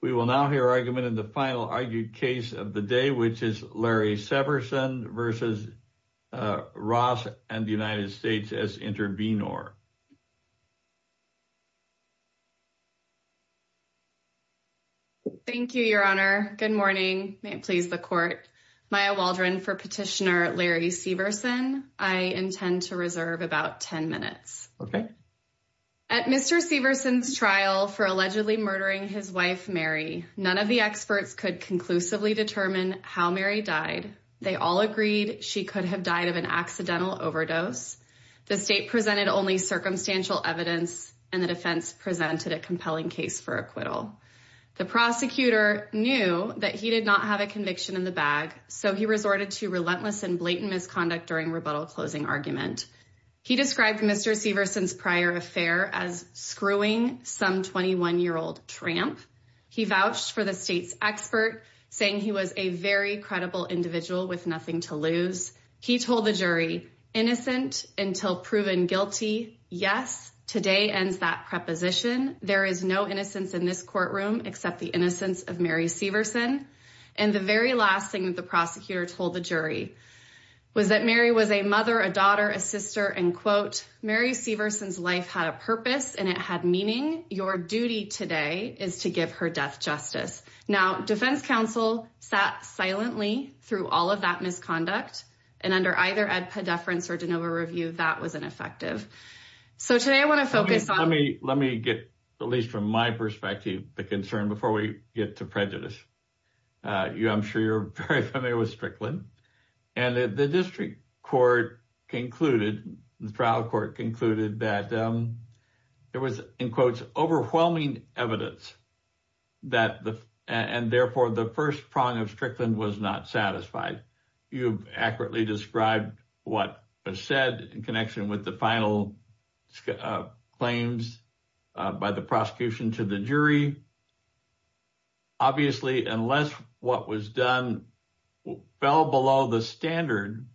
We will now hear argument in the final argued case of the day which is Larry Severson versus Ross and the United States as intervenor. Thank you your honor. Good morning. May it please the court. Maya Waldron for petitioner Larry Severson. I intend to reserve about ten minutes. Okay. At Mr. Severson's trial for allegedly murdering his wife Mary, none of the experts could conclusively determine how Mary died. They all agreed she could have died of an accidental overdose. The state presented only circumstantial evidence and the defense presented a compelling case for acquittal. The prosecutor knew that he did not have a conviction in the bag so he resorted to relentless and blatant misconduct during rebuttal closing argument. He described Mr. Severson's affair as screwing some 21-year-old tramp. He vouched for the state's expert saying he was a very credible individual with nothing to lose. He told the jury innocent until proven guilty. Yes, today ends that preposition. There is no innocence in this courtroom except the innocence of Mary Severson. And the very last thing that the prosecutor told the jury was that Mary was a mother, a and it had meaning. Your duty today is to give her death justice. Now, defense counsel sat silently through all of that misconduct and under either ed pedeference or de novo review that was ineffective. So today I want to focus on me. Let me get at least from my perspective the concern before we get to prejudice. Uh you I'm sure you're very familiar with Strickland and the district court concluded the trial court concluded that um there was in quotes overwhelming evidence that the and therefore the first prong of Strickland was not satisfied. You've accurately described what was said in connection with the final uh claims by the prosecution to the jury. Obviously unless what was done fell below the standard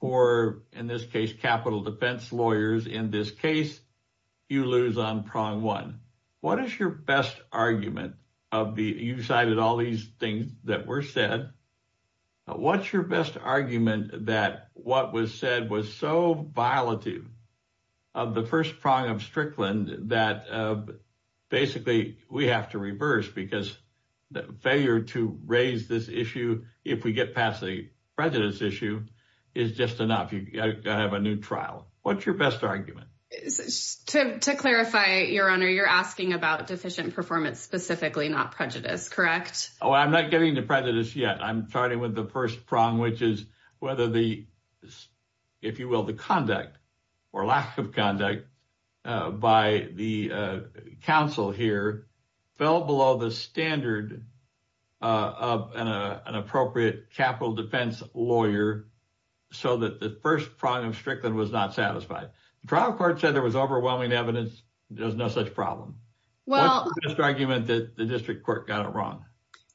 for in this case capital defense lawyers in this case you lose on prong one. What is your best argument of the you cited all these things that were said. What's your best argument that what was said was so violative of the first prong of Strickland that basically we have to reverse because the failure to raise this issue if we get past the prejudice issue is just enough. You gotta have a new trial. What's your best argument to clarify your honor? You're asking about deficient performance specifically not prejudice, correct? Oh, I'm not getting the prejudice yet. I'm starting with the first prong which is whether the if you the conduct or lack of conduct by the council here fell below the standard of an appropriate capital defense lawyer so that the first prong of Strickland was not satisfied. The trial court said there was overwhelming evidence. There's no such problem. What's the best argument that the district court got it wrong?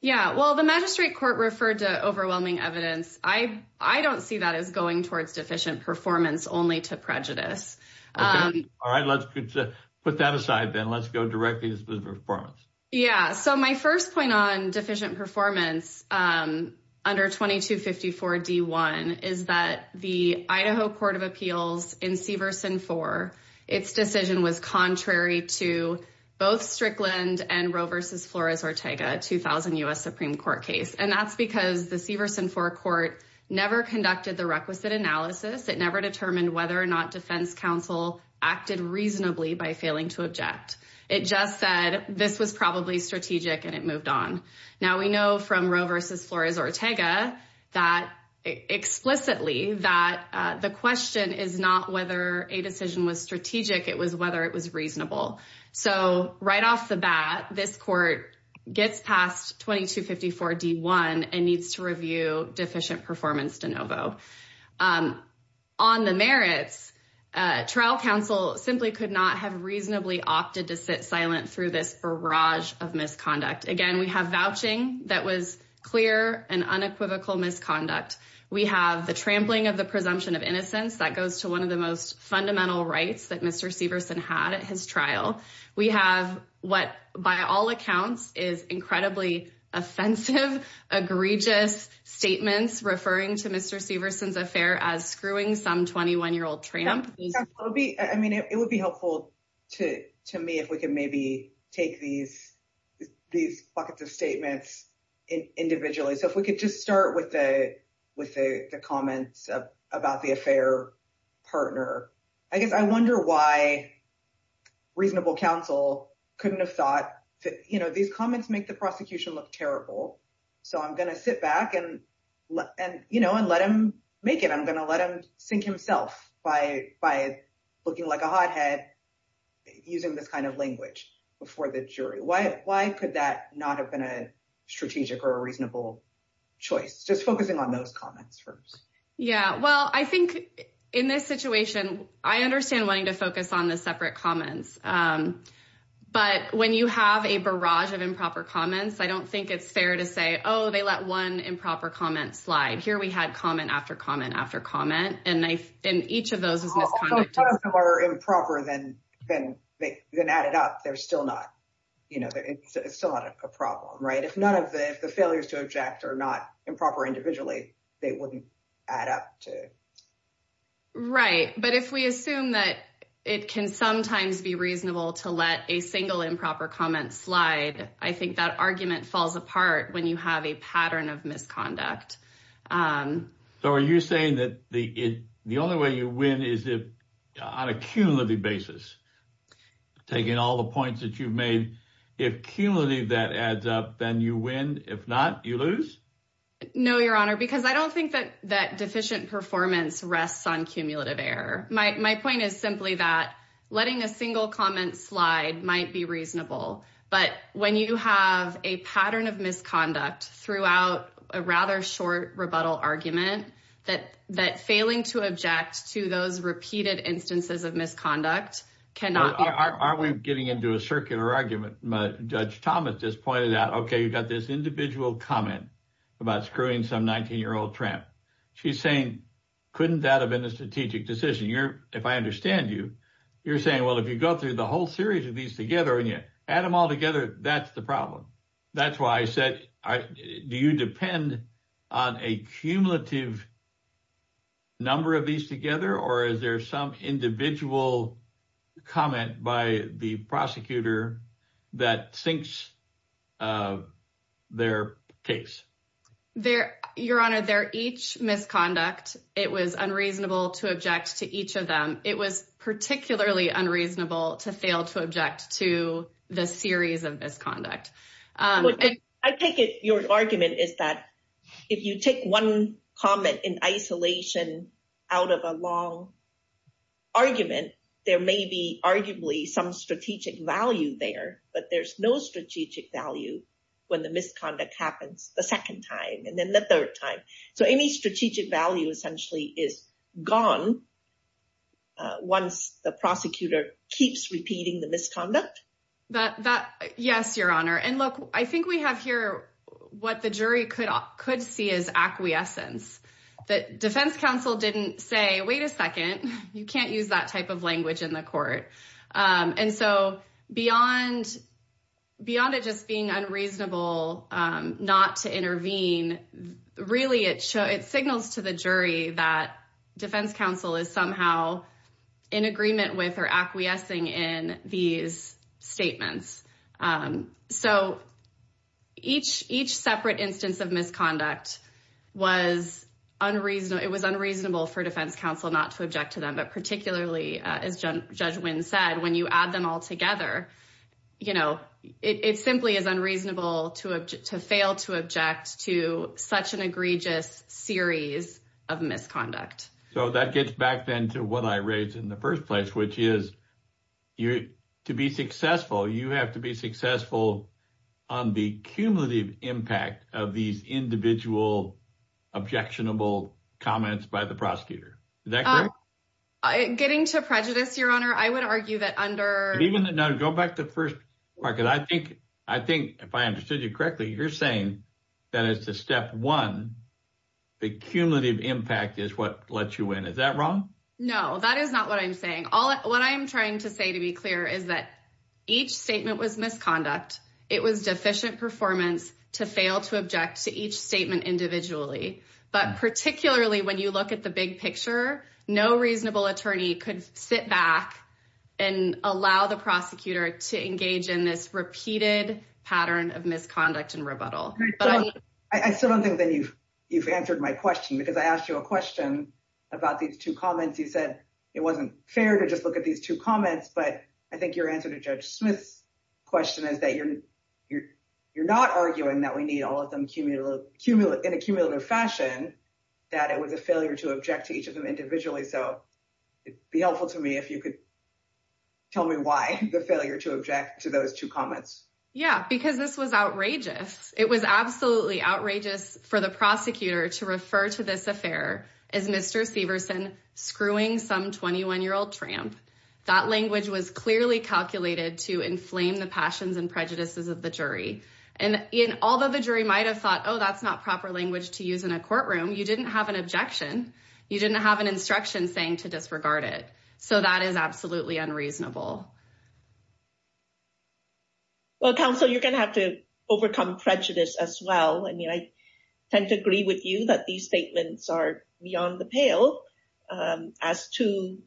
Yeah, well the magistrate court referred to overwhelming evidence. I don't see that as going towards deficient performance only to prejudice. All right, let's put that aside then. Let's go directly to the performance. Yeah, so my first point on deficient performance under 2254 D1 is that the Idaho Court of Appeals in Severson four, its decision was contrary to both Strickland and Roe versus Flores Ortega 2000 US Supreme Court case and that's because the Severson four never conducted the requisite analysis. It never determined whether or not defense counsel acted reasonably by failing to object. It just said this was probably strategic and it moved on. Now we know from Roe versus Flores Ortega that explicitly that the question is not whether a decision was strategic. It was whether it was reasonable. So right off the bat, this gets past 2254 D1 and needs to review deficient performance de novo. On the merits, trial counsel simply could not have reasonably opted to sit silent through this barrage of misconduct. Again, we have vouching that was clear and unequivocal misconduct. We have the trampling of the presumption of innocence that goes to one of the most fundamental rights that Mr. Severson had at his trial. We have what by all accounts is incredibly offensive, egregious statements referring to Mr. Severson's affair as screwing some 21-year-old tramp. It would be helpful to me if we can maybe take these buckets of statements individually. So if we could just start with the comments about the affair partner. I guess I wonder why reasonable counsel couldn't have thought that these comments make the prosecution look terrible. So I'm going to sit back and let him make it. I'm going to let him sink himself by looking like a hothead using this kind of language before the jury. Why could that not have been a strategic or a reasonable choice? Just yeah. Well, I think in this situation, I understand wanting to focus on the separate comments. But when you have a barrage of improper comments, I don't think it's fair to say, oh, they let one improper comment slide. Here we had comment after comment after comment, and each of those was misconduct. If none of them are improper, then add it up. They're still not, you know, it's still not a problem, right? If the failures to object are not improper individually, they wouldn't add up to right. But if we assume that it can sometimes be reasonable to let a single improper comment slide, I think that argument falls apart when you have a pattern of misconduct. So are you saying that the the only way you win is on a cumulative basis, taking all the points that you've made? If cumulative that adds up, then you win. If not, you lose? No, Your Honor, because I don't think that that deficient performance rests on cumulative error. My point is simply that letting a single comment slide might be reasonable. But when you have a pattern of misconduct throughout a rather short rebuttal argument, that that failing to object to those repeated instances of misconduct cannot. Are we getting into a circular argument? Judge Thomas just pointed out, okay, you've got this individual comment about screwing some 19-year-old tramp. She's saying, couldn't that have been a strategic decision? If I understand you, you're saying, well, if you go through the whole series of these together and you add them all together, that's the problem. That's why I said, do you depend on a cumulative number of these together? Or is there some individual comment by the prosecutor that sinks their case? Your Honor, they're each misconduct. It was unreasonable to object to each of them. It was particularly unreasonable to fail to object to the series of misconduct. I take it your argument is that if you take one comment in isolation out of a long argument, there may be arguably some strategic value there, but there's no strategic value when the misconduct happens the second time and then the third time. Any strategic value essentially is gone once the prosecutor keeps repeating the misconduct? Yes, Your Honor. Look, I think we have here what the jury could see as acquiescence, that defense counsel didn't say, wait a second, you can't use that type of language in the court. Beyond it just being unreasonable not to intervene, really it signals to the jury that defense counsel is somehow in agreement with or acquiescing in these statements. Each separate instance of was unreasonable. It was unreasonable for defense counsel not to object to them, but particularly as Judge Wynn said, when you add them all together, it simply is unreasonable to fail to object to such an egregious series of misconduct. That gets back then to what I raised in the first place, which is you're to be successful, you have to be successful on the cumulative impact of these individual objectionable comments by the prosecutor. Is that correct? Getting to prejudice, Your Honor, I would argue that under... Go back to the first part, because I think if I understood you correctly, you're saying that as to step one, the cumulative impact is what lets you win. Is that wrong? No, that is not what I'm saying. What I'm trying to say to be clear is that each statement was misconduct. It was deficient performance to fail to object to each statement individually. But particularly when you look at the big picture, no reasonable attorney could sit back and allow the prosecutor to engage in this repeated pattern of misconduct and rebuttal. I still don't think that you've answered my question, because I asked you a question about these two comments. You said it wasn't fair to just look at these two comments, but I think your answer to Judge Smith's question is that you're not arguing that we need all of them in a cumulative fashion, that it was a failure to object to each of them individually. So it'd be helpful to me if you could tell me why the failure to object to those two comments. Yeah, because this was outrageous. It was absolutely outrageous for the prosecutor to refer to this affair as Mr. Severson screwing some 21-year-old tramp. That language was clearly calculated to inflame the passions and prejudices of the jury. And although the jury might have thought, oh, that's not proper language to use in a courtroom, you didn't have an objection. You didn't have an instruction saying to disregard it. So that is absolutely unreasonable. Well, counsel, you're going to have to overcome prejudice as well. I mean, I tend to agree with you that these statements are beyond the pale as two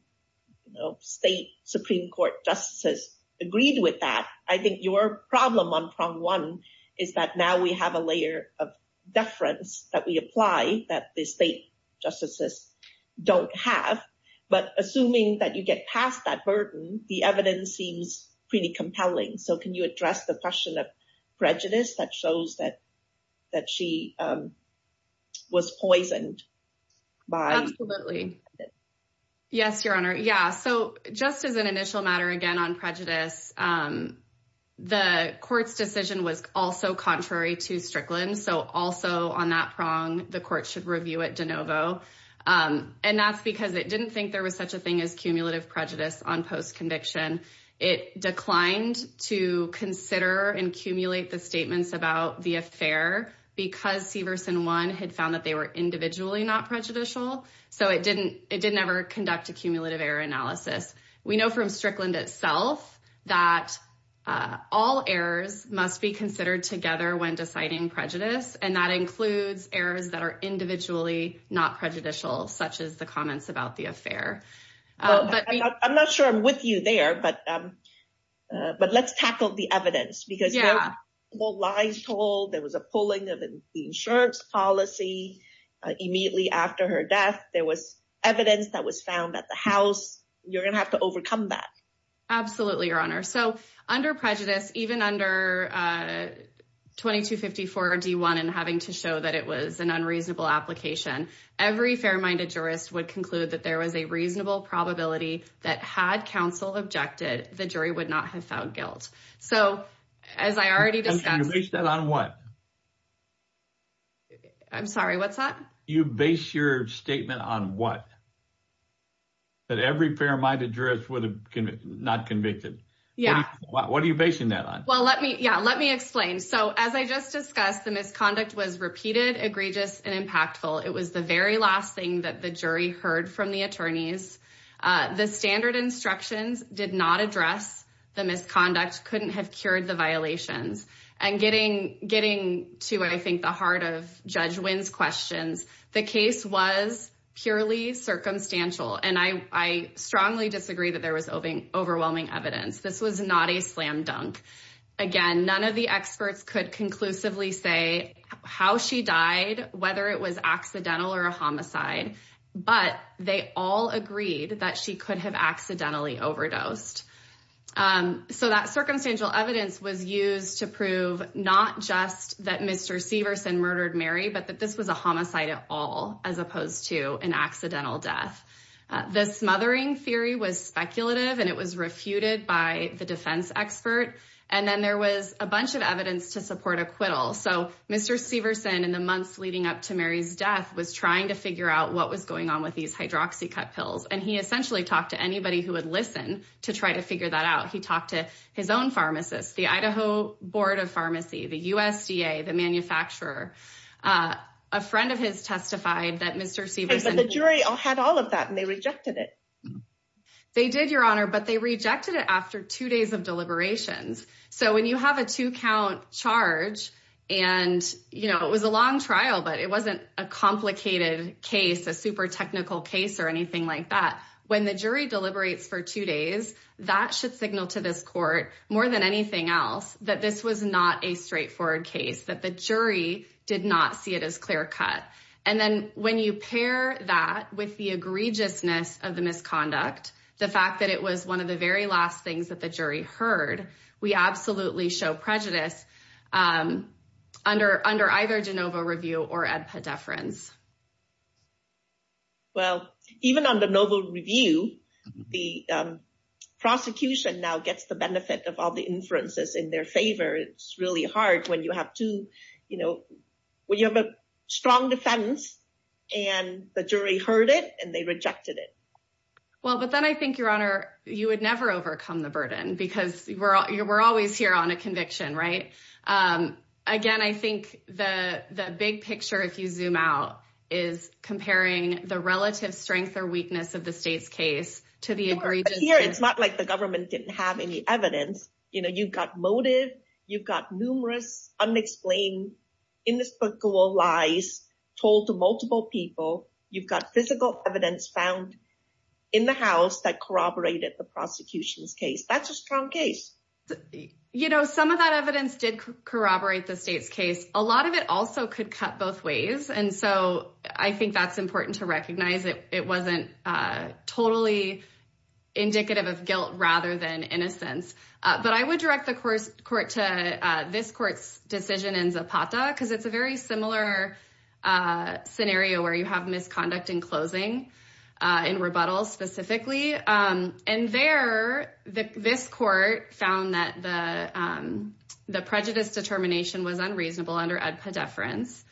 state Supreme Court justices agreed with that. I think your problem on prong one is that now we have a layer of deference that we apply that the state justices don't have. But assuming that you get past that burden, the evidence seems pretty compelling. So can you address the question of prejudice that shows that she was poisoned? Absolutely. Yes, Your Honor. Yeah. So just as an initial matter again on prejudice, the court's decision was also contrary to Strickland. So also on that prong, the court should review it de novo. And that's because it didn't think there was such a thing as cumulative prejudice on post-conviction. It declined to consider and accumulate the about the affair because Severson one had found that they were individually not prejudicial. So it didn't it didn't ever conduct a cumulative error analysis. We know from Strickland itself that all errors must be considered together when deciding prejudice. And that includes errors that are individually not prejudicial, such as the comments about the affair. But I'm not sure I'm you there, but but let's tackle the evidence because, yeah, the lies told there was a pulling of the insurance policy immediately after her death. There was evidence that was found at the house. You're going to have to overcome that. Absolutely, Your Honor. So under prejudice, even under 2254 D1 and having to show that it was an unreasonable application, every fair minded jurist would conclude that there was a reasonable probability that had counsel objected, the jury would not have found guilt. So as I already discussed that on what? I'm sorry, what's that? You base your statement on what? That every fair minded jurist would have not convicted? Yeah. What are you basing that on? Well, let me yeah, let me explain. So as I just discussed, the misconduct was repeated, egregious and impactful. It was the very last thing that the jury heard from the attorneys. The standard instructions did not address the misconduct, couldn't have cured the violations. And getting getting to, I think, the heart of Judge Wynn's questions, the case was purely circumstantial. And I strongly disagree that there was overwhelming evidence. This was not a slam dunk. Again, none of the experts could conclusively say how she died, whether it was accidental or a that she could have accidentally overdosed. So that circumstantial evidence was used to prove not just that Mr. Severson murdered Mary, but that this was a homicide at all, as opposed to an accidental death. The smothering theory was speculative, and it was refuted by the defense expert. And then there was a bunch of evidence to support acquittal. So Mr. Severson in the months leading up to Mary's death was trying to figure out what was going on with these hydroxycut pills. And he essentially talked to anybody who would listen to try to figure that out. He talked to his own pharmacist, the Idaho Board of Pharmacy, the USDA, the manufacturer. A friend of his testified that Mr. Severson... But the jury had all of that and they rejected it. They did, Your Honor, but they rejected it after two days of deliberations. So when you have a two count charge, and it was a long trial, but it wasn't a complicated case, a super technical case or anything like that, when the jury deliberates for two days, that should signal to this court, more than anything else, that this was not a straightforward case, that the jury did not see it as clear cut. And then when you pair that with the egregiousness of the misconduct, the fact that it was one of the very last things that the jury heard, we absolutely show prejudice under either DeNova review or Edpa deference. Well, even on DeNova review, the prosecution now gets the benefit of all the inferences in their favor. It's really hard when you have a strong defense and the jury heard it and they rejected it. Well, but then I think, Your Honor, you would never overcome the burden because we're always here on a conviction, right? Again, I think the big picture, if you zoom out, is comparing the relative strength or weakness of the state's case to the egregiousness. It's not like the government didn't have any evidence. You've got motive, you've got numerous unexplained, inescapable lies told to multiple people. You've got physical evidence found in the house that corroborated the prosecution's case. That's a strong case. You know, some of that evidence did corroborate the state's case. A lot of it also could cut both ways. And so I think that's important to recognize. It wasn't totally indicative of guilt rather than innocence. But I would direct the court to this court's decision in Zapata because it's a very similar scenario where you have misconduct in closing, in rebuttals specifically. And there, this court found that the prejudice determination was unreasonable under EDPA deference.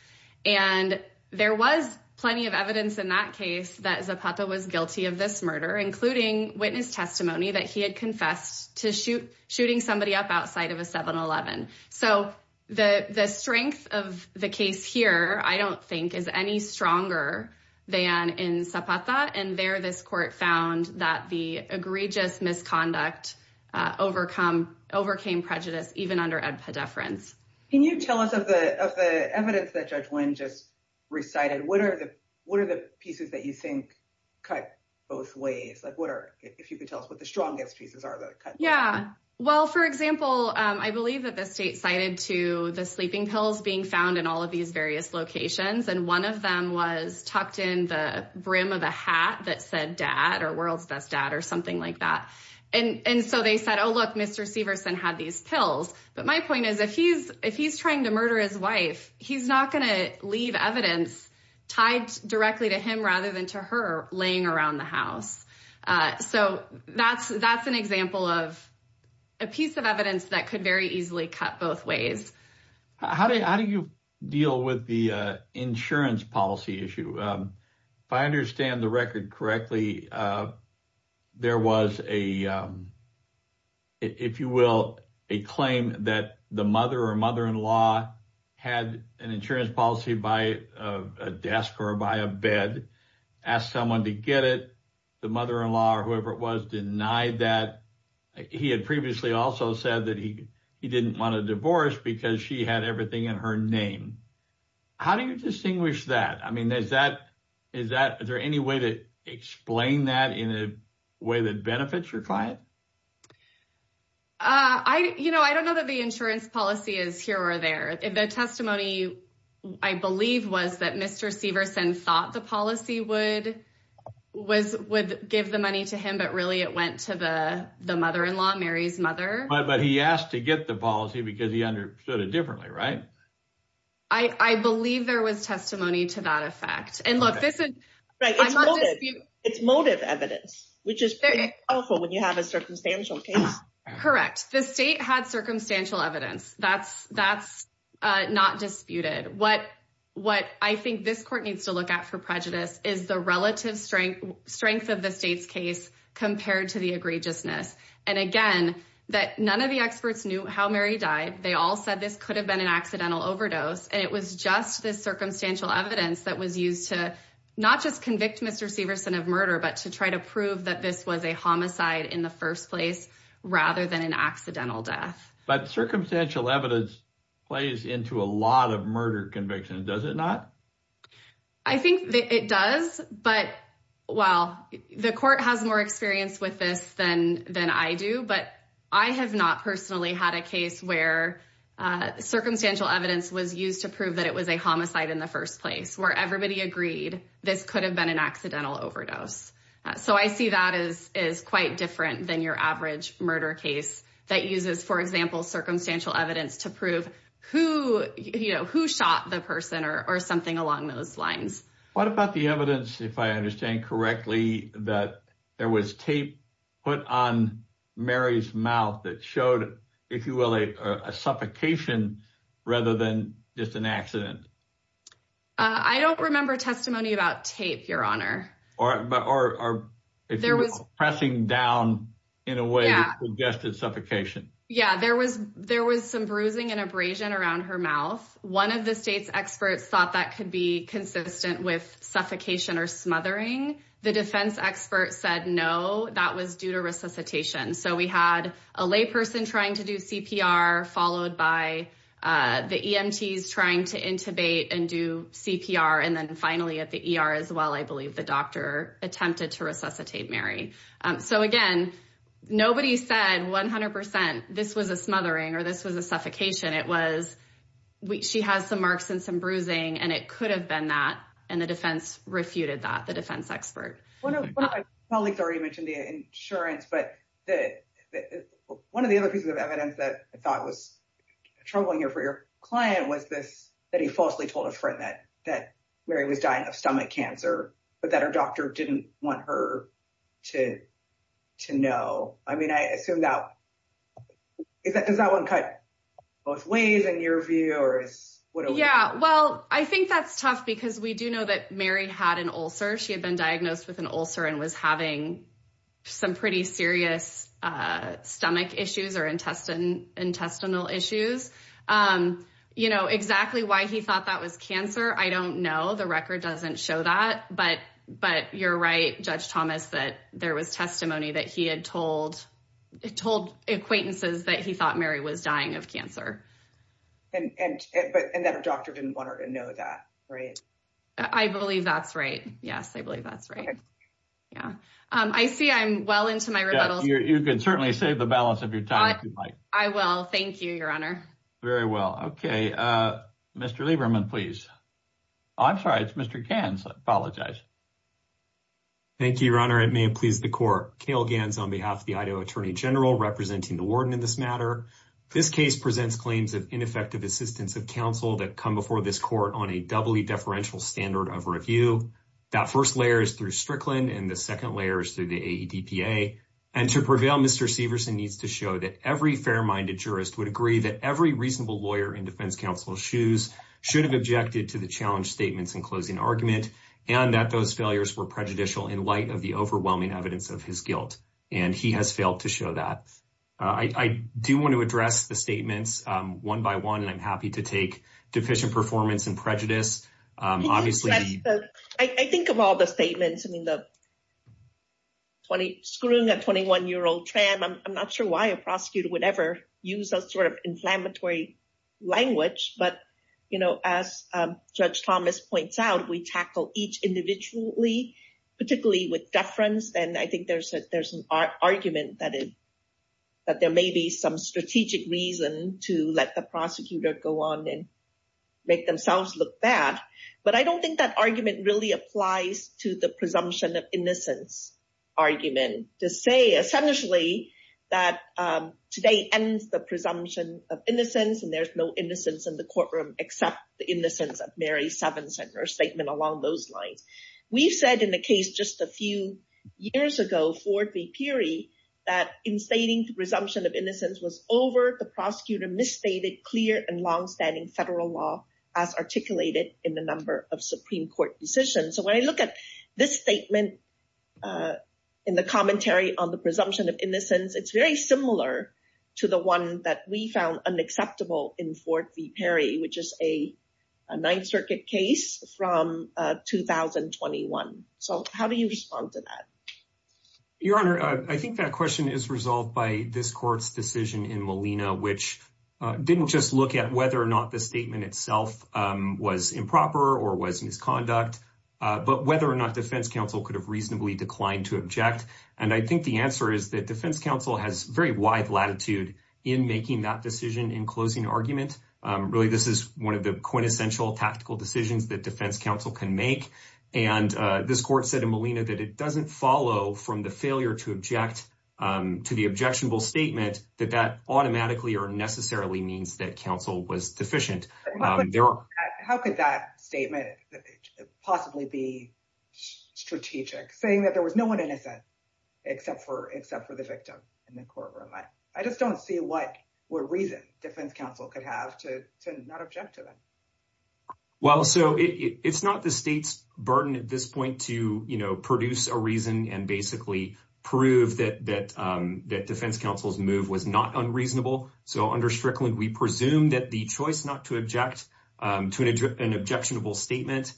And there was plenty of evidence in that case that Zapata was guilty of this murder, including witness testimony that he had confessed to shooting somebody up outside of a 7-Eleven. So the strength of the case here, I don't think, is any stronger than in Zapata. And there, this court found that the egregious misconduct overcame prejudice even under EDPA deference. Can you tell us of the evidence that Judge Wynn just recited? What are the pieces that you think cut both ways? If you could tell us what the strongest pieces are that cut both ways. Well, for example, I believe that the state cited to the sleeping pills being found in all of these various locations. And one of them was tucked in the brim of a hat that said dad or world's best dad or something like that. And so they said, oh, look, Mr. Severson had these pills. But my point is, if he's trying to murder his wife, he's not going to leave evidence tied directly to him other than to her laying around the house. So that's an example of a piece of evidence that could very easily cut both ways. How do you deal with the insurance policy issue? If I understand the record correctly, there was a, if you will, a claim that the mother or law had an insurance policy by a desk or by a bed, asked someone to get it. The mother-in-law or whoever it was denied that. He had previously also said that he didn't want a divorce because she had everything in her name. How do you distinguish that? I mean, is there any way to explain that in a way that benefits your client? I don't know that the insurance policy is here or there. The testimony, I believe, was that Mr. Severson thought the policy would give the money to him, but really it went to the mother-in-law, Mary's mother. But he asked to get the policy because he understood it differently, right? I believe there was testimony to that effect. And look, this is right. It's motive evidence, which is powerful when you have a evidence. That's not disputed. What I think this court needs to look at for prejudice is the relative strength of the state's case compared to the egregiousness. And again, that none of the experts knew how Mary died. They all said this could have been an accidental overdose. And it was just this circumstantial evidence that was used to not just convict Mr. Severson of murder, but to try to prove that this was a homicide in the first place rather than an accidental death. But circumstantial evidence plays into a lot of murder convictions, does it not? I think that it does. But, well, the court has more experience with this than I do. But I have not personally had a case where circumstantial evidence was used to prove that it was a homicide in the first place, where everybody agreed this could have been an accidental overdose. So I see that as quite different than your average murder case that uses, for example, circumstantial evidence to prove who shot the person or something along those lines. What about the evidence, if I understand correctly, that there was tape put on Mary's mouth that showed, if you will, a suffocation rather than just an accident? I don't remember testimony about tape, Your Honor. Or if you will, pressing down in a way that suggested suffocation. Yeah, there was some bruising and abrasion around her mouth. One of the state's experts thought that could be consistent with suffocation or smothering. The defense expert said no, that was due to resuscitation. So we had a layperson trying to and do CPR. And then finally at the ER as well, I believe the doctor attempted to resuscitate Mary. So again, nobody said 100% this was a smothering or this was a suffocation. It was she has some marks and some bruising, and it could have been that. And the defense refuted that, the defense expert. One of my colleagues already mentioned the insurance, but one of the other pieces of told a friend that Mary was dying of stomach cancer, but that her doctor didn't want her to know. I mean, I assume that, does that one cut both ways in your view? Yeah, well, I think that's tough because we do know that Mary had an ulcer. She had been diagnosed with an ulcer and was having some pretty serious stomach issues or intestinal issues. Exactly why he thought that was cancer, I don't know. The record doesn't show that, but you're right, Judge Thomas, that there was testimony that he had told acquaintances that he thought Mary was dying of cancer. And that her doctor didn't want her to know that, right? I believe that's right. Yes, I believe that's right. Yeah. I see I'm well into my rebuttals. You can certainly save the balance of your time if you'd like. I will. Thank you, Your Honor. Very well. Okay. Mr. Lieberman, please. I'm sorry. It's Mr. Gans. I apologize. Thank you, Your Honor. It may have pleased the court. Cale Gans on behalf of the Idaho Attorney General representing the warden in this matter. This case presents claims of ineffective assistance of counsel that come before this court on a doubly deferential standard of review. That first layer is through Strickland and the second layer is through the AEDPA. And to prevail, Mr. Severson needs to show that every fair-minded jurist would agree that every reasonable lawyer in defense counsel's shoes should have objected to the challenge statements in closing argument and that those failures were prejudicial in light of the overwhelming evidence of his guilt. And he has failed to show that. I do want to address the statements one by one, and I'm happy to take deficient performance and prejudice. I think of all the statements. I mean, screwing a 21-year-old tram, I'm not sure why a prosecutor would ever use that sort of inflammatory language. But as Judge Thomas points out, we tackle each individually, particularly with deference. And I think there's an argument that there may be some strategic reason to let the prosecutor go on and make themselves look bad. I don't think that argument really applies to the presumption of innocence argument to say, essentially, that today ends the presumption of innocence and there's no innocence in the courtroom except the innocence of Mary Severson or a statement along those lines. We've said in the case just a few years ago, Ford v. Peary, that in stating the presumption of innocence was over, the prosecutor misstated clear and longstanding federal law as articulated in the number of Supreme Court decisions. So when I look at this statement in the commentary on the presumption of innocence, it's very similar to the one that we found unacceptable in Ford v. Peary, which is a Ninth Circuit case from 2021. So how do you respond to that? Your Honor, I think that question is resolved by this court's decision in Molina, which didn't just look at whether or not the statement itself was improper or was misconduct, but whether or not defense counsel could have reasonably declined to object. And I think the answer is that defense counsel has very wide latitude in making that decision in closing argument. Really, this is one of the quintessential tactical decisions that defense counsel can make. And this court said in Molina that it doesn't follow from the failure to object to the objectionable statement that that automatically or necessarily means that counsel was deficient. How could that statement possibly be strategic, saying that there was no one innocent except for the victim in the courtroom? I just don't see what reason defense counsel could have to not object to that. Well, so it's not the state's burden at this point to produce a reason and basically prove that defense counsel's move was not unreasonable. So under Strickland, we presume that the choice not to object to an objectionable statement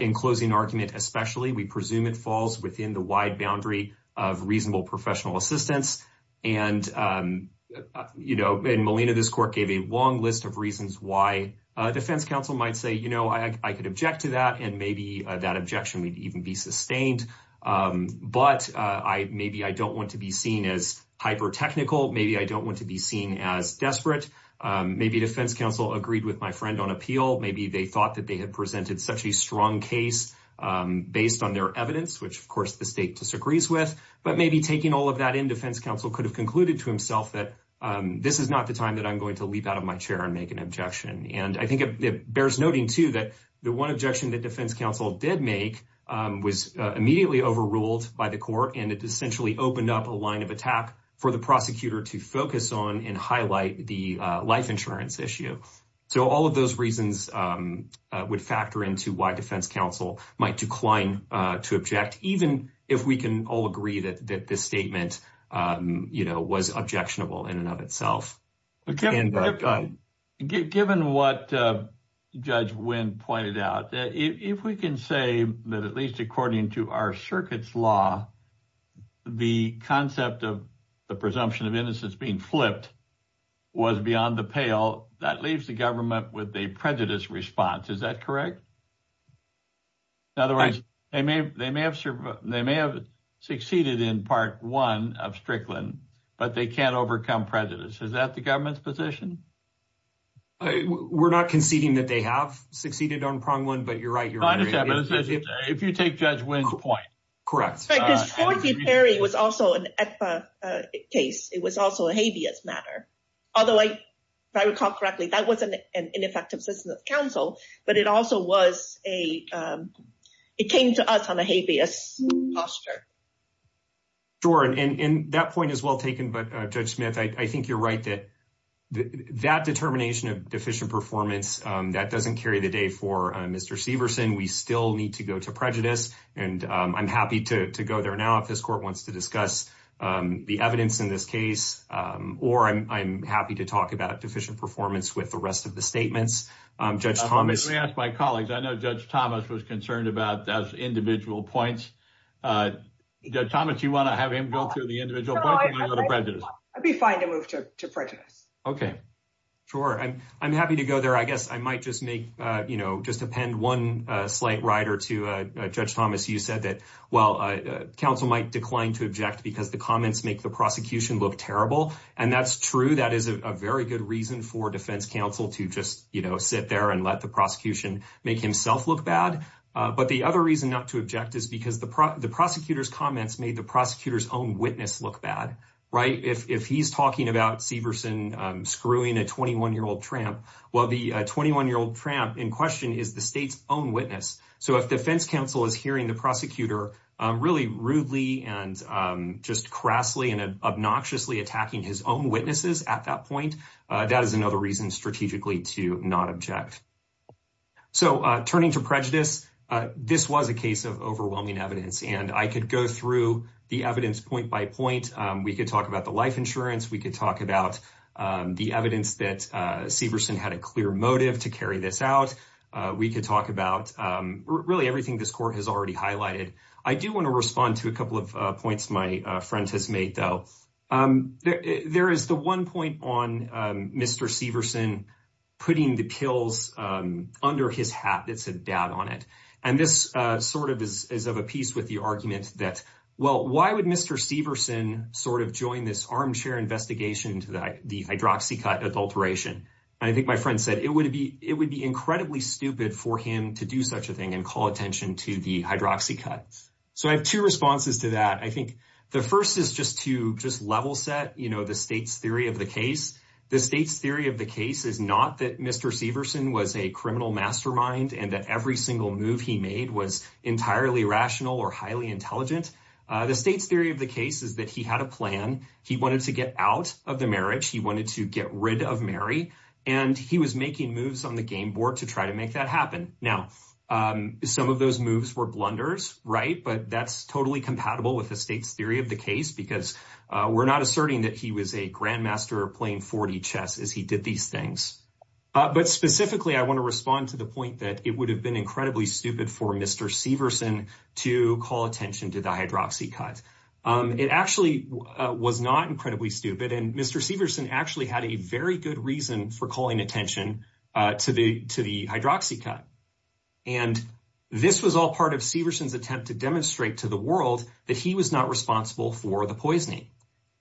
in closing argument especially, we presume it falls within the wide boundary of reasonable professional assistance. And Molina, this court gave a long list of reasons why defense counsel might say, I could object to that and maybe that objection would even be sustained. But maybe I don't want to be seen as hyper technical. Maybe I don't want to be seen as desperate. Maybe defense counsel agreed with my friend on appeal. Maybe they thought that they had presented such a strong case based on their evidence, which of course the state disagrees with. But maybe taking all of that in defense counsel could have concluded to himself that this is not the time that I'm going to leap out of my chair and make an objection. And I think it bears noting too that the one objection that defense counsel did make was immediately overruled by the court and it essentially opened up a line of attack for the prosecutor to focus on and highlight the life insurance issue. So all of those reasons would factor into why defense counsel might decline to object, even if we can all agree that this statement was objectionable in and of itself. Given what Judge Wynn pointed out, if we can say that at least according to our circuit's law, the concept of the presumption of innocence being flipped was beyond the pale, that leaves the government with a prejudiced response. Is that correct? In other words, they may have succeeded in part one of Strickland, but they can't overcome prejudice. Is that the government's position? We're not conceding that they have succeeded on Prong Wynn, but you're right. If you take Judge Wynn's point. Correct. Because Forty Perry was also an ECA case. It was also a habeas matter. Although if I recall correctly, that was an ineffective system of counsel, but it also came to us on a habeas posture. Sure, and that point is well taken, but Judge Smith, I think you're right that that determination of deficient performance, that doesn't carry the day for Mr. Severson. We still need to go to prejudice and I'm happy to go there now if this court wants to discuss the evidence in this case or I'm happy to talk about deficient performance with the rest of the statements. Let me ask my colleagues. I know Judge Thomas was concerned about those individual points. Judge Thomas, do you want to have him go through the individual points or do you want to go to prejudice? I'd be fine to move to prejudice. Okay, sure. I'm happy to go there. I guess I might just append one slight rider to Judge Thomas. You said that, well, counsel might decline to object because the comments make the prosecution look terrible. And that's true. That is a very good reason for defense counsel to just sit there and let the prosecution make himself look bad. But the other reason not to object is because the prosecutor's comments made the prosecutor's own witness look bad, right? If he's talking about Severson screwing a 21-year-old tramp, well, the 21-year-old tramp in question is the state's own witness. So if defense counsel is hearing the prosecutor really rudely and just crassly and obnoxiously attacking his own witnesses at that point, that is another reason strategically to not object. So turning to prejudice, this was a case of overwhelming evidence. And I could go through the evidence point by point. We could talk about the life insurance. We could talk about the evidence that Severson had a clear motive to carry this out. We could talk about really everything this court has already highlighted. I do want to respond to a couple of points my friend has made, though. There is the one point on Mr. Severson putting the pills under his hat that said dad on it. And this sort of is of a piece with the argument that, well, why would Mr. Severson sort of join this armchair investigation into the hydroxycut adulteration? And I think my friend said it would be incredibly stupid for him to do such a thing and call attention to the hydroxycut. So I have two responses to that. I think the first is just to just level set the state's theory of the case. The state's theory of the case is not that Mr. Severson was a criminal mastermind and that every single move he made was entirely rational or highly intelligent. The state's theory of the case is that he had a plan. He wanted to get out of the marriage. He wanted to get rid of Mary. And he was making moves on the game board to try to make that happen. Now, some of those moves were blunders, right? But that's totally compatible with the state's theory of the case because we're not asserting that he was a grandmaster playing 40 chess as he did these things. But specifically, I want to respond to the point that it would have been incredibly stupid for Mr. Severson to call attention to the hydroxycut. It actually was not incredibly stupid. And Mr. Severson actually had a very good reason for calling attention to the hydroxycut. And this was all part of Severson's attempt to demonstrate to the world that he was not responsible for the poisoning.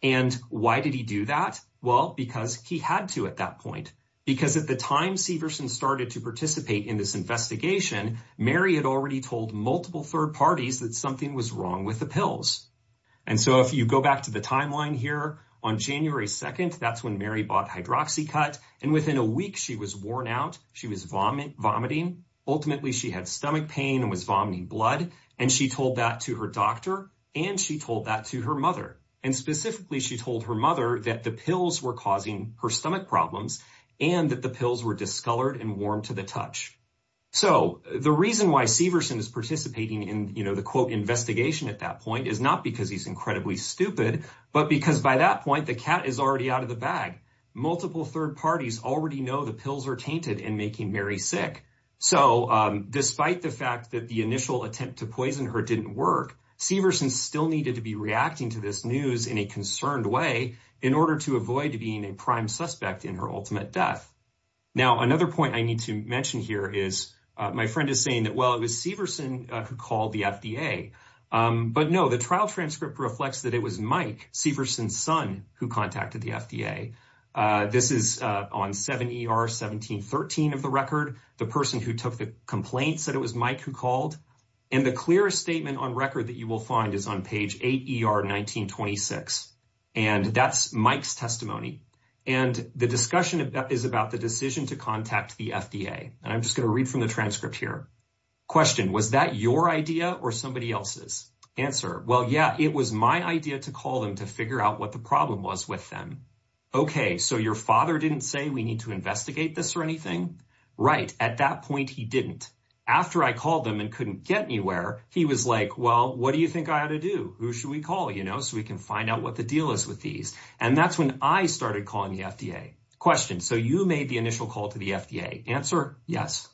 And why did he do that? Well, because he had to at that point. Because at the time Severson started to participate in this investigation, Mary had already told multiple third parties that something was wrong with the pills. And so if you go back to the timeline here on January 2nd, that's when Mary bought hydroxycut. And within a week, she was worn out. She was vomiting. Ultimately, she had stomach pain and was vomiting blood. And she told that to her doctor. And she told that to her mother. And specifically, she told her mother that the pills were causing her stomach problems and that the So the reason why Severson is participating in the quote investigation at that point is not because he's incredibly stupid, but because by that point, the cat is already out of the bag. Multiple third parties already know the pills are tainted and making Mary sick. So despite the fact that the initial attempt to poison her didn't work, Severson still needed to be reacting to this news in a concerned way in order to avoid being a prime suspect in her ultimate death. Now, another point I need to mention here is my friend is saying that, well, it was Severson who called the FDA. But no, the trial transcript reflects that it was Mike Severson's son who contacted the FDA. This is on 7 ER 1713 of the record. The person who took the complaint said it was Mike who called. And the clearest statement on record that you will find is on page 8 ER 1926. And that's Mike's testimony. And the discussion is about the decision to contact the FDA. And I'm just going to read from the transcript here. Question. Was that your idea or somebody else's answer? Well, yeah, it was my idea to call them to figure out what the problem was with them. Okay. So your father didn't say we need to investigate this or anything, right? At that point, he didn't. After I called them and couldn't get anywhere, he was like, well, what do you think I ought to do? Who should we call, you know, so we can find out what the deal is with these. And that's when I started calling the FDA question. So you made the initial call to the FDA answer. Yes.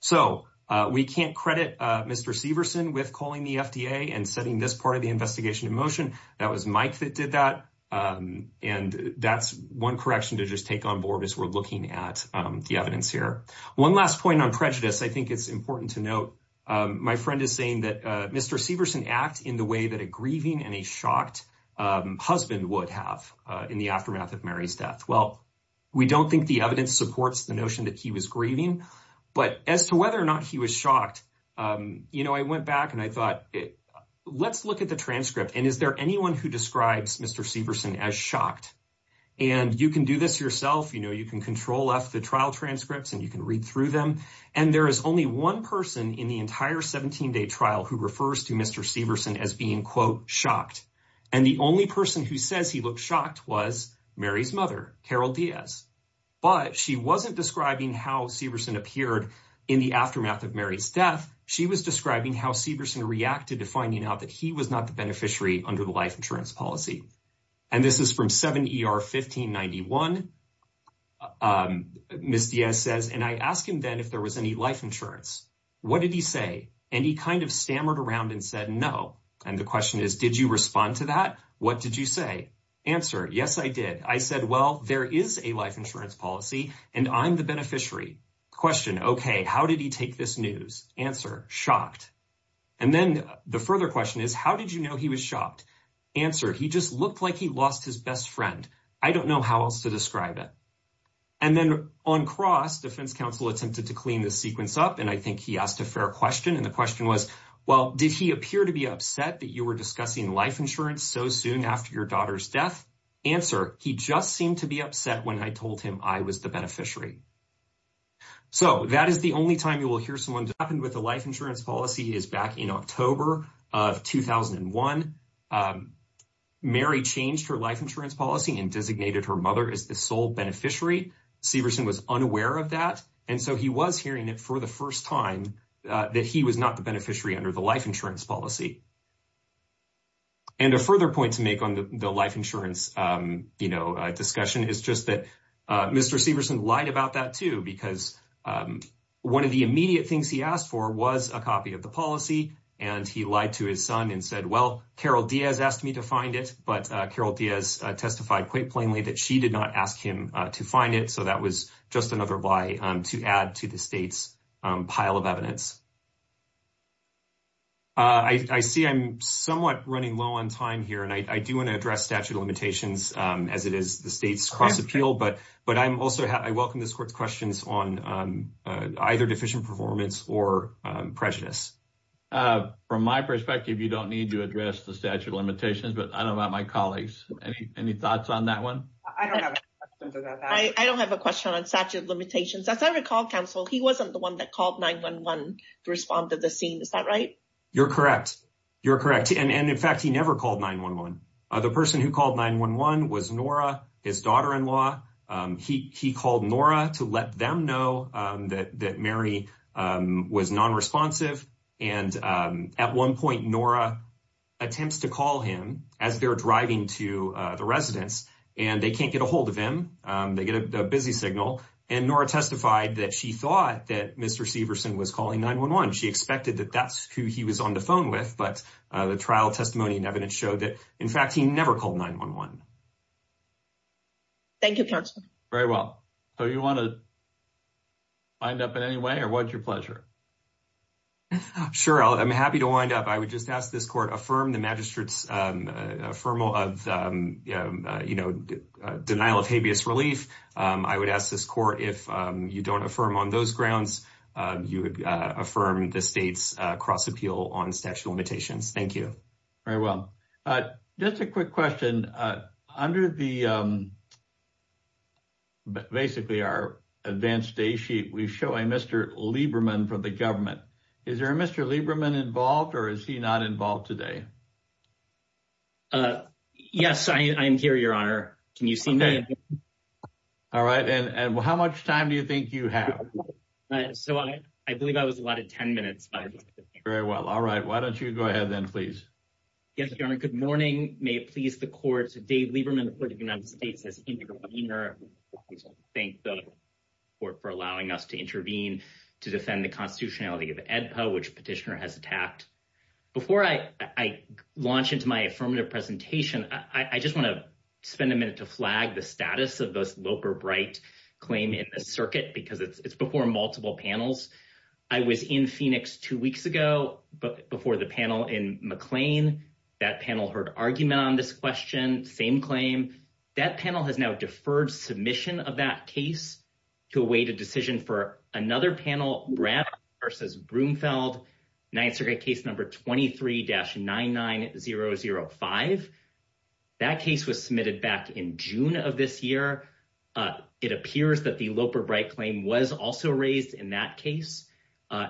So, uh, we can't credit, uh, Mr. Severson with calling the FDA and setting this part of the investigation in motion. That was Mike that did that. Um, and that's one correction to just take on board as we're looking at, um, the evidence here. One last point on prejudice. I think it's important to note. Um, my friend is saying that, uh, Mr. Severson act in the way that a grieving and a shocked, um, husband would have, uh, in the aftermath of Mary's death. Well, we don't think the evidence supports the notion that he was grieving, but as to whether or not he was shocked, um, you know, I went back and I thought, let's look at the transcript. And is there anyone who describes Mr. Severson as shocked and you can do this yourself? You know, you can left the trial transcripts and you can read through them. And there is only one person in the entire 17 day trial who refers to Mr. Severson as being quote shocked. And the only person who says he looked shocked was Mary's mother, Carol Diaz, but she wasn't describing how Severson appeared in the aftermath of Mary's death. She was describing how Severson reacted to finding out that he was not the beneficiary under the life insurance policy. And this is from seven 1591. Um, Ms. Diaz says, and I asked him then if there was any life insurance, what did he say? And he kind of stammered around and said, no. And the question is, did you respond to that? What did you say? Answer? Yes, I did. I said, well, there is a life insurance policy and I'm the beneficiary question. Okay. How did he take this news? Answer shocked. And then the further question is, how did you know he was shocked answer? He just looked like he lost his best friend. I don't know how else to describe it. And then on cross defense counsel attempted to clean the sequence up. And I think he asked a fair question. And the question was, well, did he appear to be upset that you were discussing life insurance? So soon after your daughter's death answer, he just seemed to be upset when I told him I was the beneficiary. So that is the only time you will hear someone happened with the life insurance policy is back in October of 2001. Mary changed her life insurance policy and designated her mother as the sole beneficiary. Severson was unaware of that. And so he was hearing it for the first time that he was not the beneficiary under the life insurance policy. And a further point to make on the life insurance discussion is just that Mr. Severson lied about that, too, because one of the immediate things he asked for was a copy of the policy. And he lied to his son and said, well, Carol Diaz asked me to find it. But Carol Diaz testified quite plainly that she did not ask him to find it. So that was just another lie to add to the state's pile of evidence. I see I'm somewhat running low on time here, and I do want to address statute of limitations as it is the state's cross appeal. But I welcome this court's questions on either deficient performance or prejudice. From my perspective, you don't need to address the statute of limitations, but I don't want my colleagues. Any thoughts on that one? I don't have a question on statute of limitations. As I recall, counsel, he wasn't the one that called 911 to respond to the scene. Is that right? You're correct. You're correct. And in fact, he never called 911. The person who called 911 was Nora, his daughter-in-law. He called Nora to let them know that Mary was non-responsive. And at one point, Nora attempts to call him as they're driving to the residence, and they can't get ahold of him. They get a busy signal. And Nora testified that she thought that Mr. Severson was calling 911. She expected that that's who he was on the phone with. But the trial testimony and evidence showed that, in fact, he never called 911. Thank you, counsel. Very well. So you want to wind up in any way, or what's your pleasure? Sure, I'm happy to wind up. I would just ask this court to affirm the magistrate's denial of habeas relief. I would ask this court, if you don't affirm on those grounds, you would affirm the state's cross-appeal on statute of limitations. Thank you. Very well. Just a quick question. Under basically our advanced day sheet, we show a Mr. Lieberman from the government. Is there a Mr. Lieberman involved, or is he not involved today? Yes, I am here, Your Honor. Can you see me? All right. And how much time do you think you have? So I believe I was allotted 10 minutes. Very well. All right. Why don't you go ahead then, please? Yes, Your Honor. Good morning. May it please the court, Dave Lieberman, the Court of the United States, as intervener. I thank the court for allowing us to intervene to defend the constitutionality of AEDPA, which Petitioner has attacked. Before I launch into my affirmative presentation, I just want to spend a minute to flag the status of this Loper-Bright claim in the circuit, because it's before multiple panels. I was in Phoenix two weeks ago before the panel in McLean. That panel heard argument on this question, same claim. That panel has now deferred submission of that case to await a decision for another panel, Brown v. Broomfield, Ninth Circuit case number 23-99005. That case was submitted back in June of this year. It appears that the Loper-Bright claim was also raised in that case.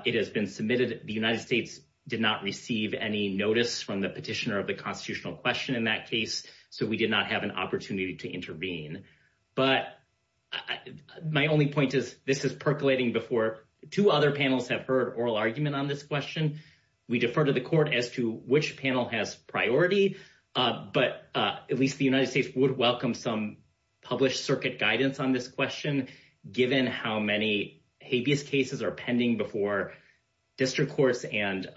It has been submitted. The United States did not receive any notice from the petitioner of the constitutional question in that case, so we did not have an opportunity to intervene. But my only point is, this is percolating before two other panels have heard oral argument on this question. We defer to the court as to which panel has priority, but at least the United States has welcomed some published circuit guidance on this question, given how many habeas cases are pending before district courts and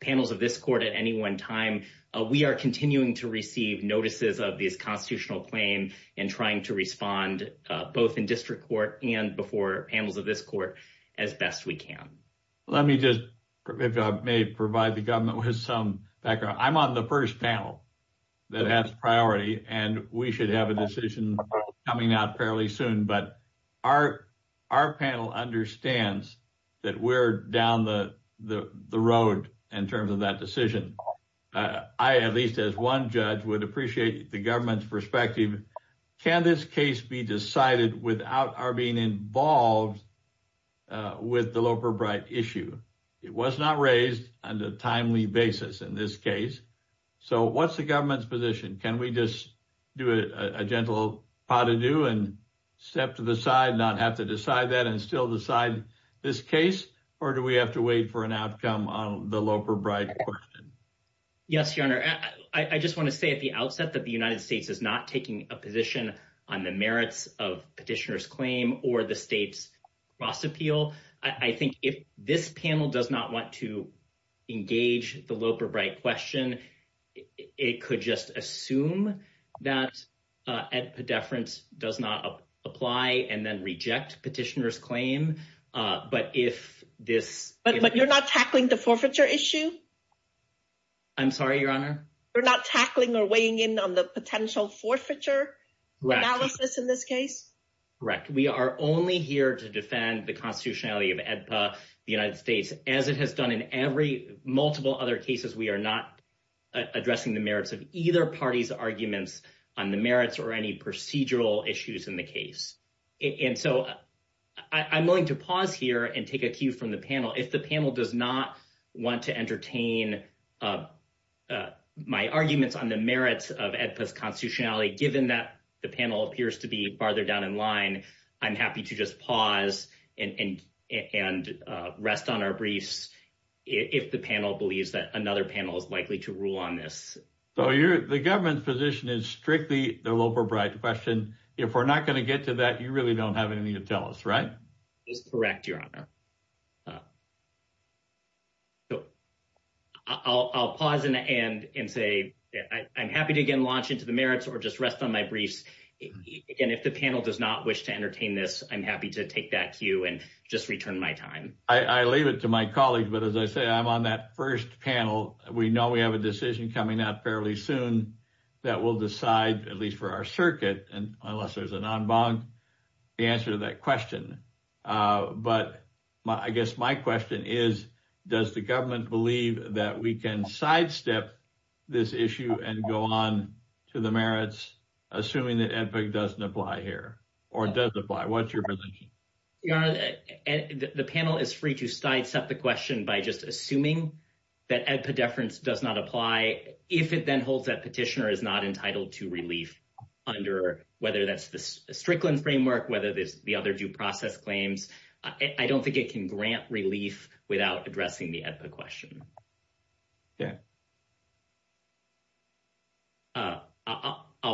panels of this court at any one time. We are continuing to receive notices of these constitutional claims and trying to respond, both in district court and before panels of this court, as best we can. Let me just, if I may, provide the government with some background. I'm on the first panel that has priority, and we should have a decision coming out fairly soon, but our panel understands that we're down the road in terms of that decision. I, at least as one judge, would appreciate the government's perspective. Can this case be decided without our being involved with the Loper-Bright issue? It was not raised on a timely basis in this case. So what's the government's position? Can we just do a gentle pas-de-deux and step to the side, not have to decide that, and still decide this case? Or do we have to wait for an outcome on the Loper-Bright question? Yes, your honor. I just want to say at the outset that the United States is not taking a position on the merits of petitioner's claim or the state's cross appeal. I think if this panel does not want to engage the Loper-Bright question, it could just assume that a deference does not apply and then reject petitioner's claim. But if this... But you're not tackling the forfeiture issue? I'm sorry, your honor? You're not tackling or weighing in on the potential forfeiture analysis in this case? Correct. We are only here to defend the constitutionality of AEDPA, the United States, as it has done in every multiple other cases. We are not addressing the merits of either party's arguments on the merits or any procedural issues in the case. And so I'm going to pause here and take a cue from the panel. If the panel does not want to entertain my arguments on the merits of AEDPA's constitutionality, given that the panel appears to be farther down in line, I'm happy to just pause and rest on our briefs if the panel believes that another panel is likely to rule on this. So the government's position is strictly the Loper-Bright question. If we're not going to get to that, you really don't have anything to tell us, right? That's correct, or just rest on my briefs. And if the panel does not wish to entertain this, I'm happy to take that cue and just return my time. I leave it to my colleagues. But as I say, I'm on that first panel. We know we have a decision coming out fairly soon that will decide, at least for our circuit, unless there's an en banc, the answer to that question. But I guess my question is, does the government believe that we can sidestep this issue and go on to the merits, assuming that AEDPA doesn't apply here, or does apply? What's your position? Your Honor, the panel is free to sidestep the question by just assuming that AEDPA deference does not apply. If it then holds that petitioner is not entitled to relief under, whether that's the Strickland framework, whether it's the other due process claims, I don't think it can grant relief without addressing the AEDPA question. I'll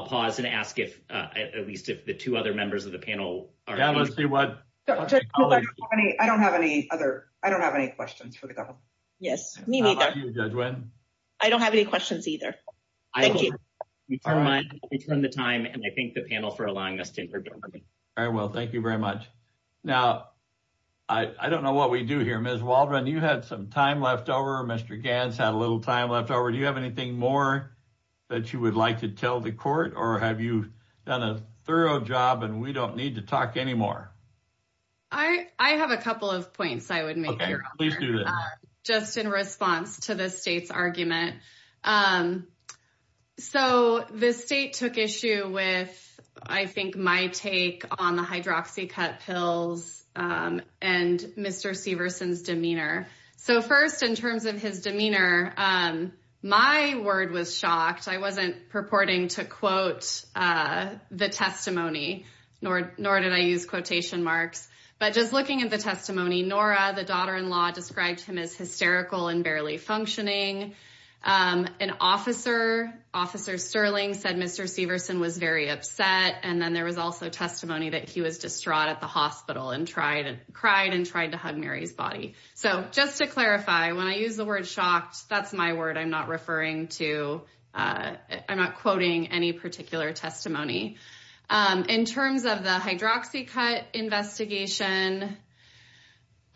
pause and ask if, at least if the two other members of the panel. I don't have any questions for the government. Yes, me neither. I don't have any questions either. Thank you. We turn the time, and I thank the panel for allowing us to hear. Ms. Waldron, you had some time left over. Mr. Ganz had a little time left over. Do you have anything more that you would like to tell the court, or have you done a thorough job and we don't need to talk anymore? I have a couple of points I would make, Your Honor, just in response to the state's argument. So the state took issue with, I think, my take on the hydroxycut pills, and Mr. Severson's demeanor. So first, in terms of his demeanor, my word was shocked. I wasn't purporting to quote the testimony, nor did I use quotation marks, but just looking at the testimony, Nora, the daughter-in-law, described him as hysterical and barely functioning. An officer, Officer Sterling, said Mr. Severson was very upset, and then there was also testimony that he was distraught at the hospital, and cried, and tried to hug Mary's body. So just to clarify, when I use the word shocked, that's my word. I'm not referring to, I'm not quoting any particular testimony. In terms of the hydroxycut investigation,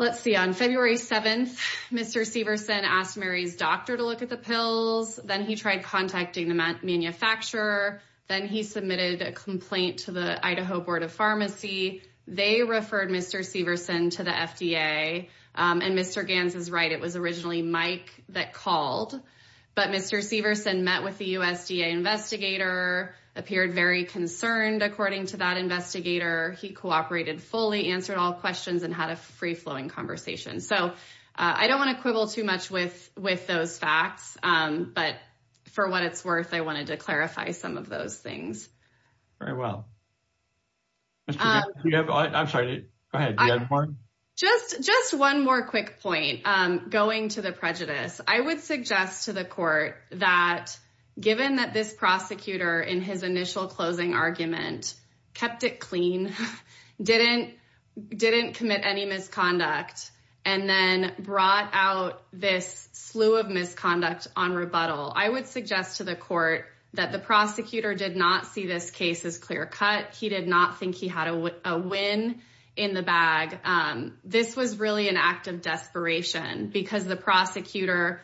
let's see, on February 7th, Mr. Severson asked Mary's doctor to look at the pills, then he tried contacting the manufacturer, then he submitted a complaint to the Idaho Board of Pharmacy. They referred Mr. Severson to the FDA, and Mr. Ganz is right, it was originally Mike that called, but Mr. Severson met with the USDA investigator, appeared very concerned, according to that investigator. He cooperated fully, answered all questions, and had a free-flowing conversation. So I don't want to quibble too much with those facts, but for what it's worth, I wanted to clarify some of those things. Very well. I'm sorry, go ahead. Just one more quick point, going to the prejudice. I would suggest to the court that given that this prosecutor, in his initial closing argument, kept it clean, didn't commit any misconduct, and then brought out this slew of misconduct on rebuttal, I would suggest to the court that the prosecutor did not see this case as clear-cut. He did not think he had a win in the bag. This was really an act of desperation, because the prosecutor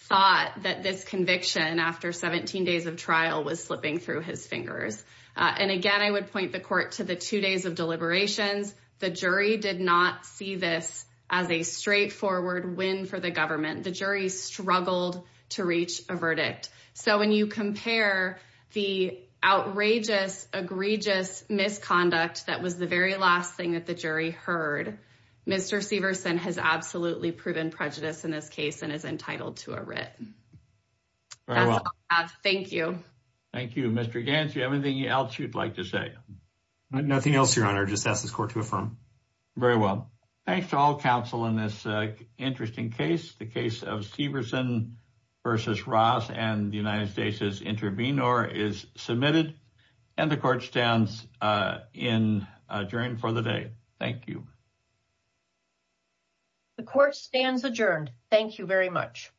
thought that this conviction, after 17 days of trial, was slipping through his fingers. And again, I would point the court to the two days of deliberations. The jury did not see this as a straightforward win for the government. The jury struggled to reach a verdict. So when you compare the outrageous, egregious misconduct that was the very last thing that the jury heard, Mr. Severson has absolutely proven prejudice in this case and is entitled to a writ. That's all I have. Thank you. Thank you. Mr. Gantz, do you have anything else you'd like to say? Nothing else, Your Honor. Just ask the court to affirm. Very well. Thanks to all counsel in this interesting case. The case of Severson v. Ross and the United States' intervenor is submitted, and the court stands adjourned for the day. Thank you. The court stands adjourned. Thank you very much. Thank you.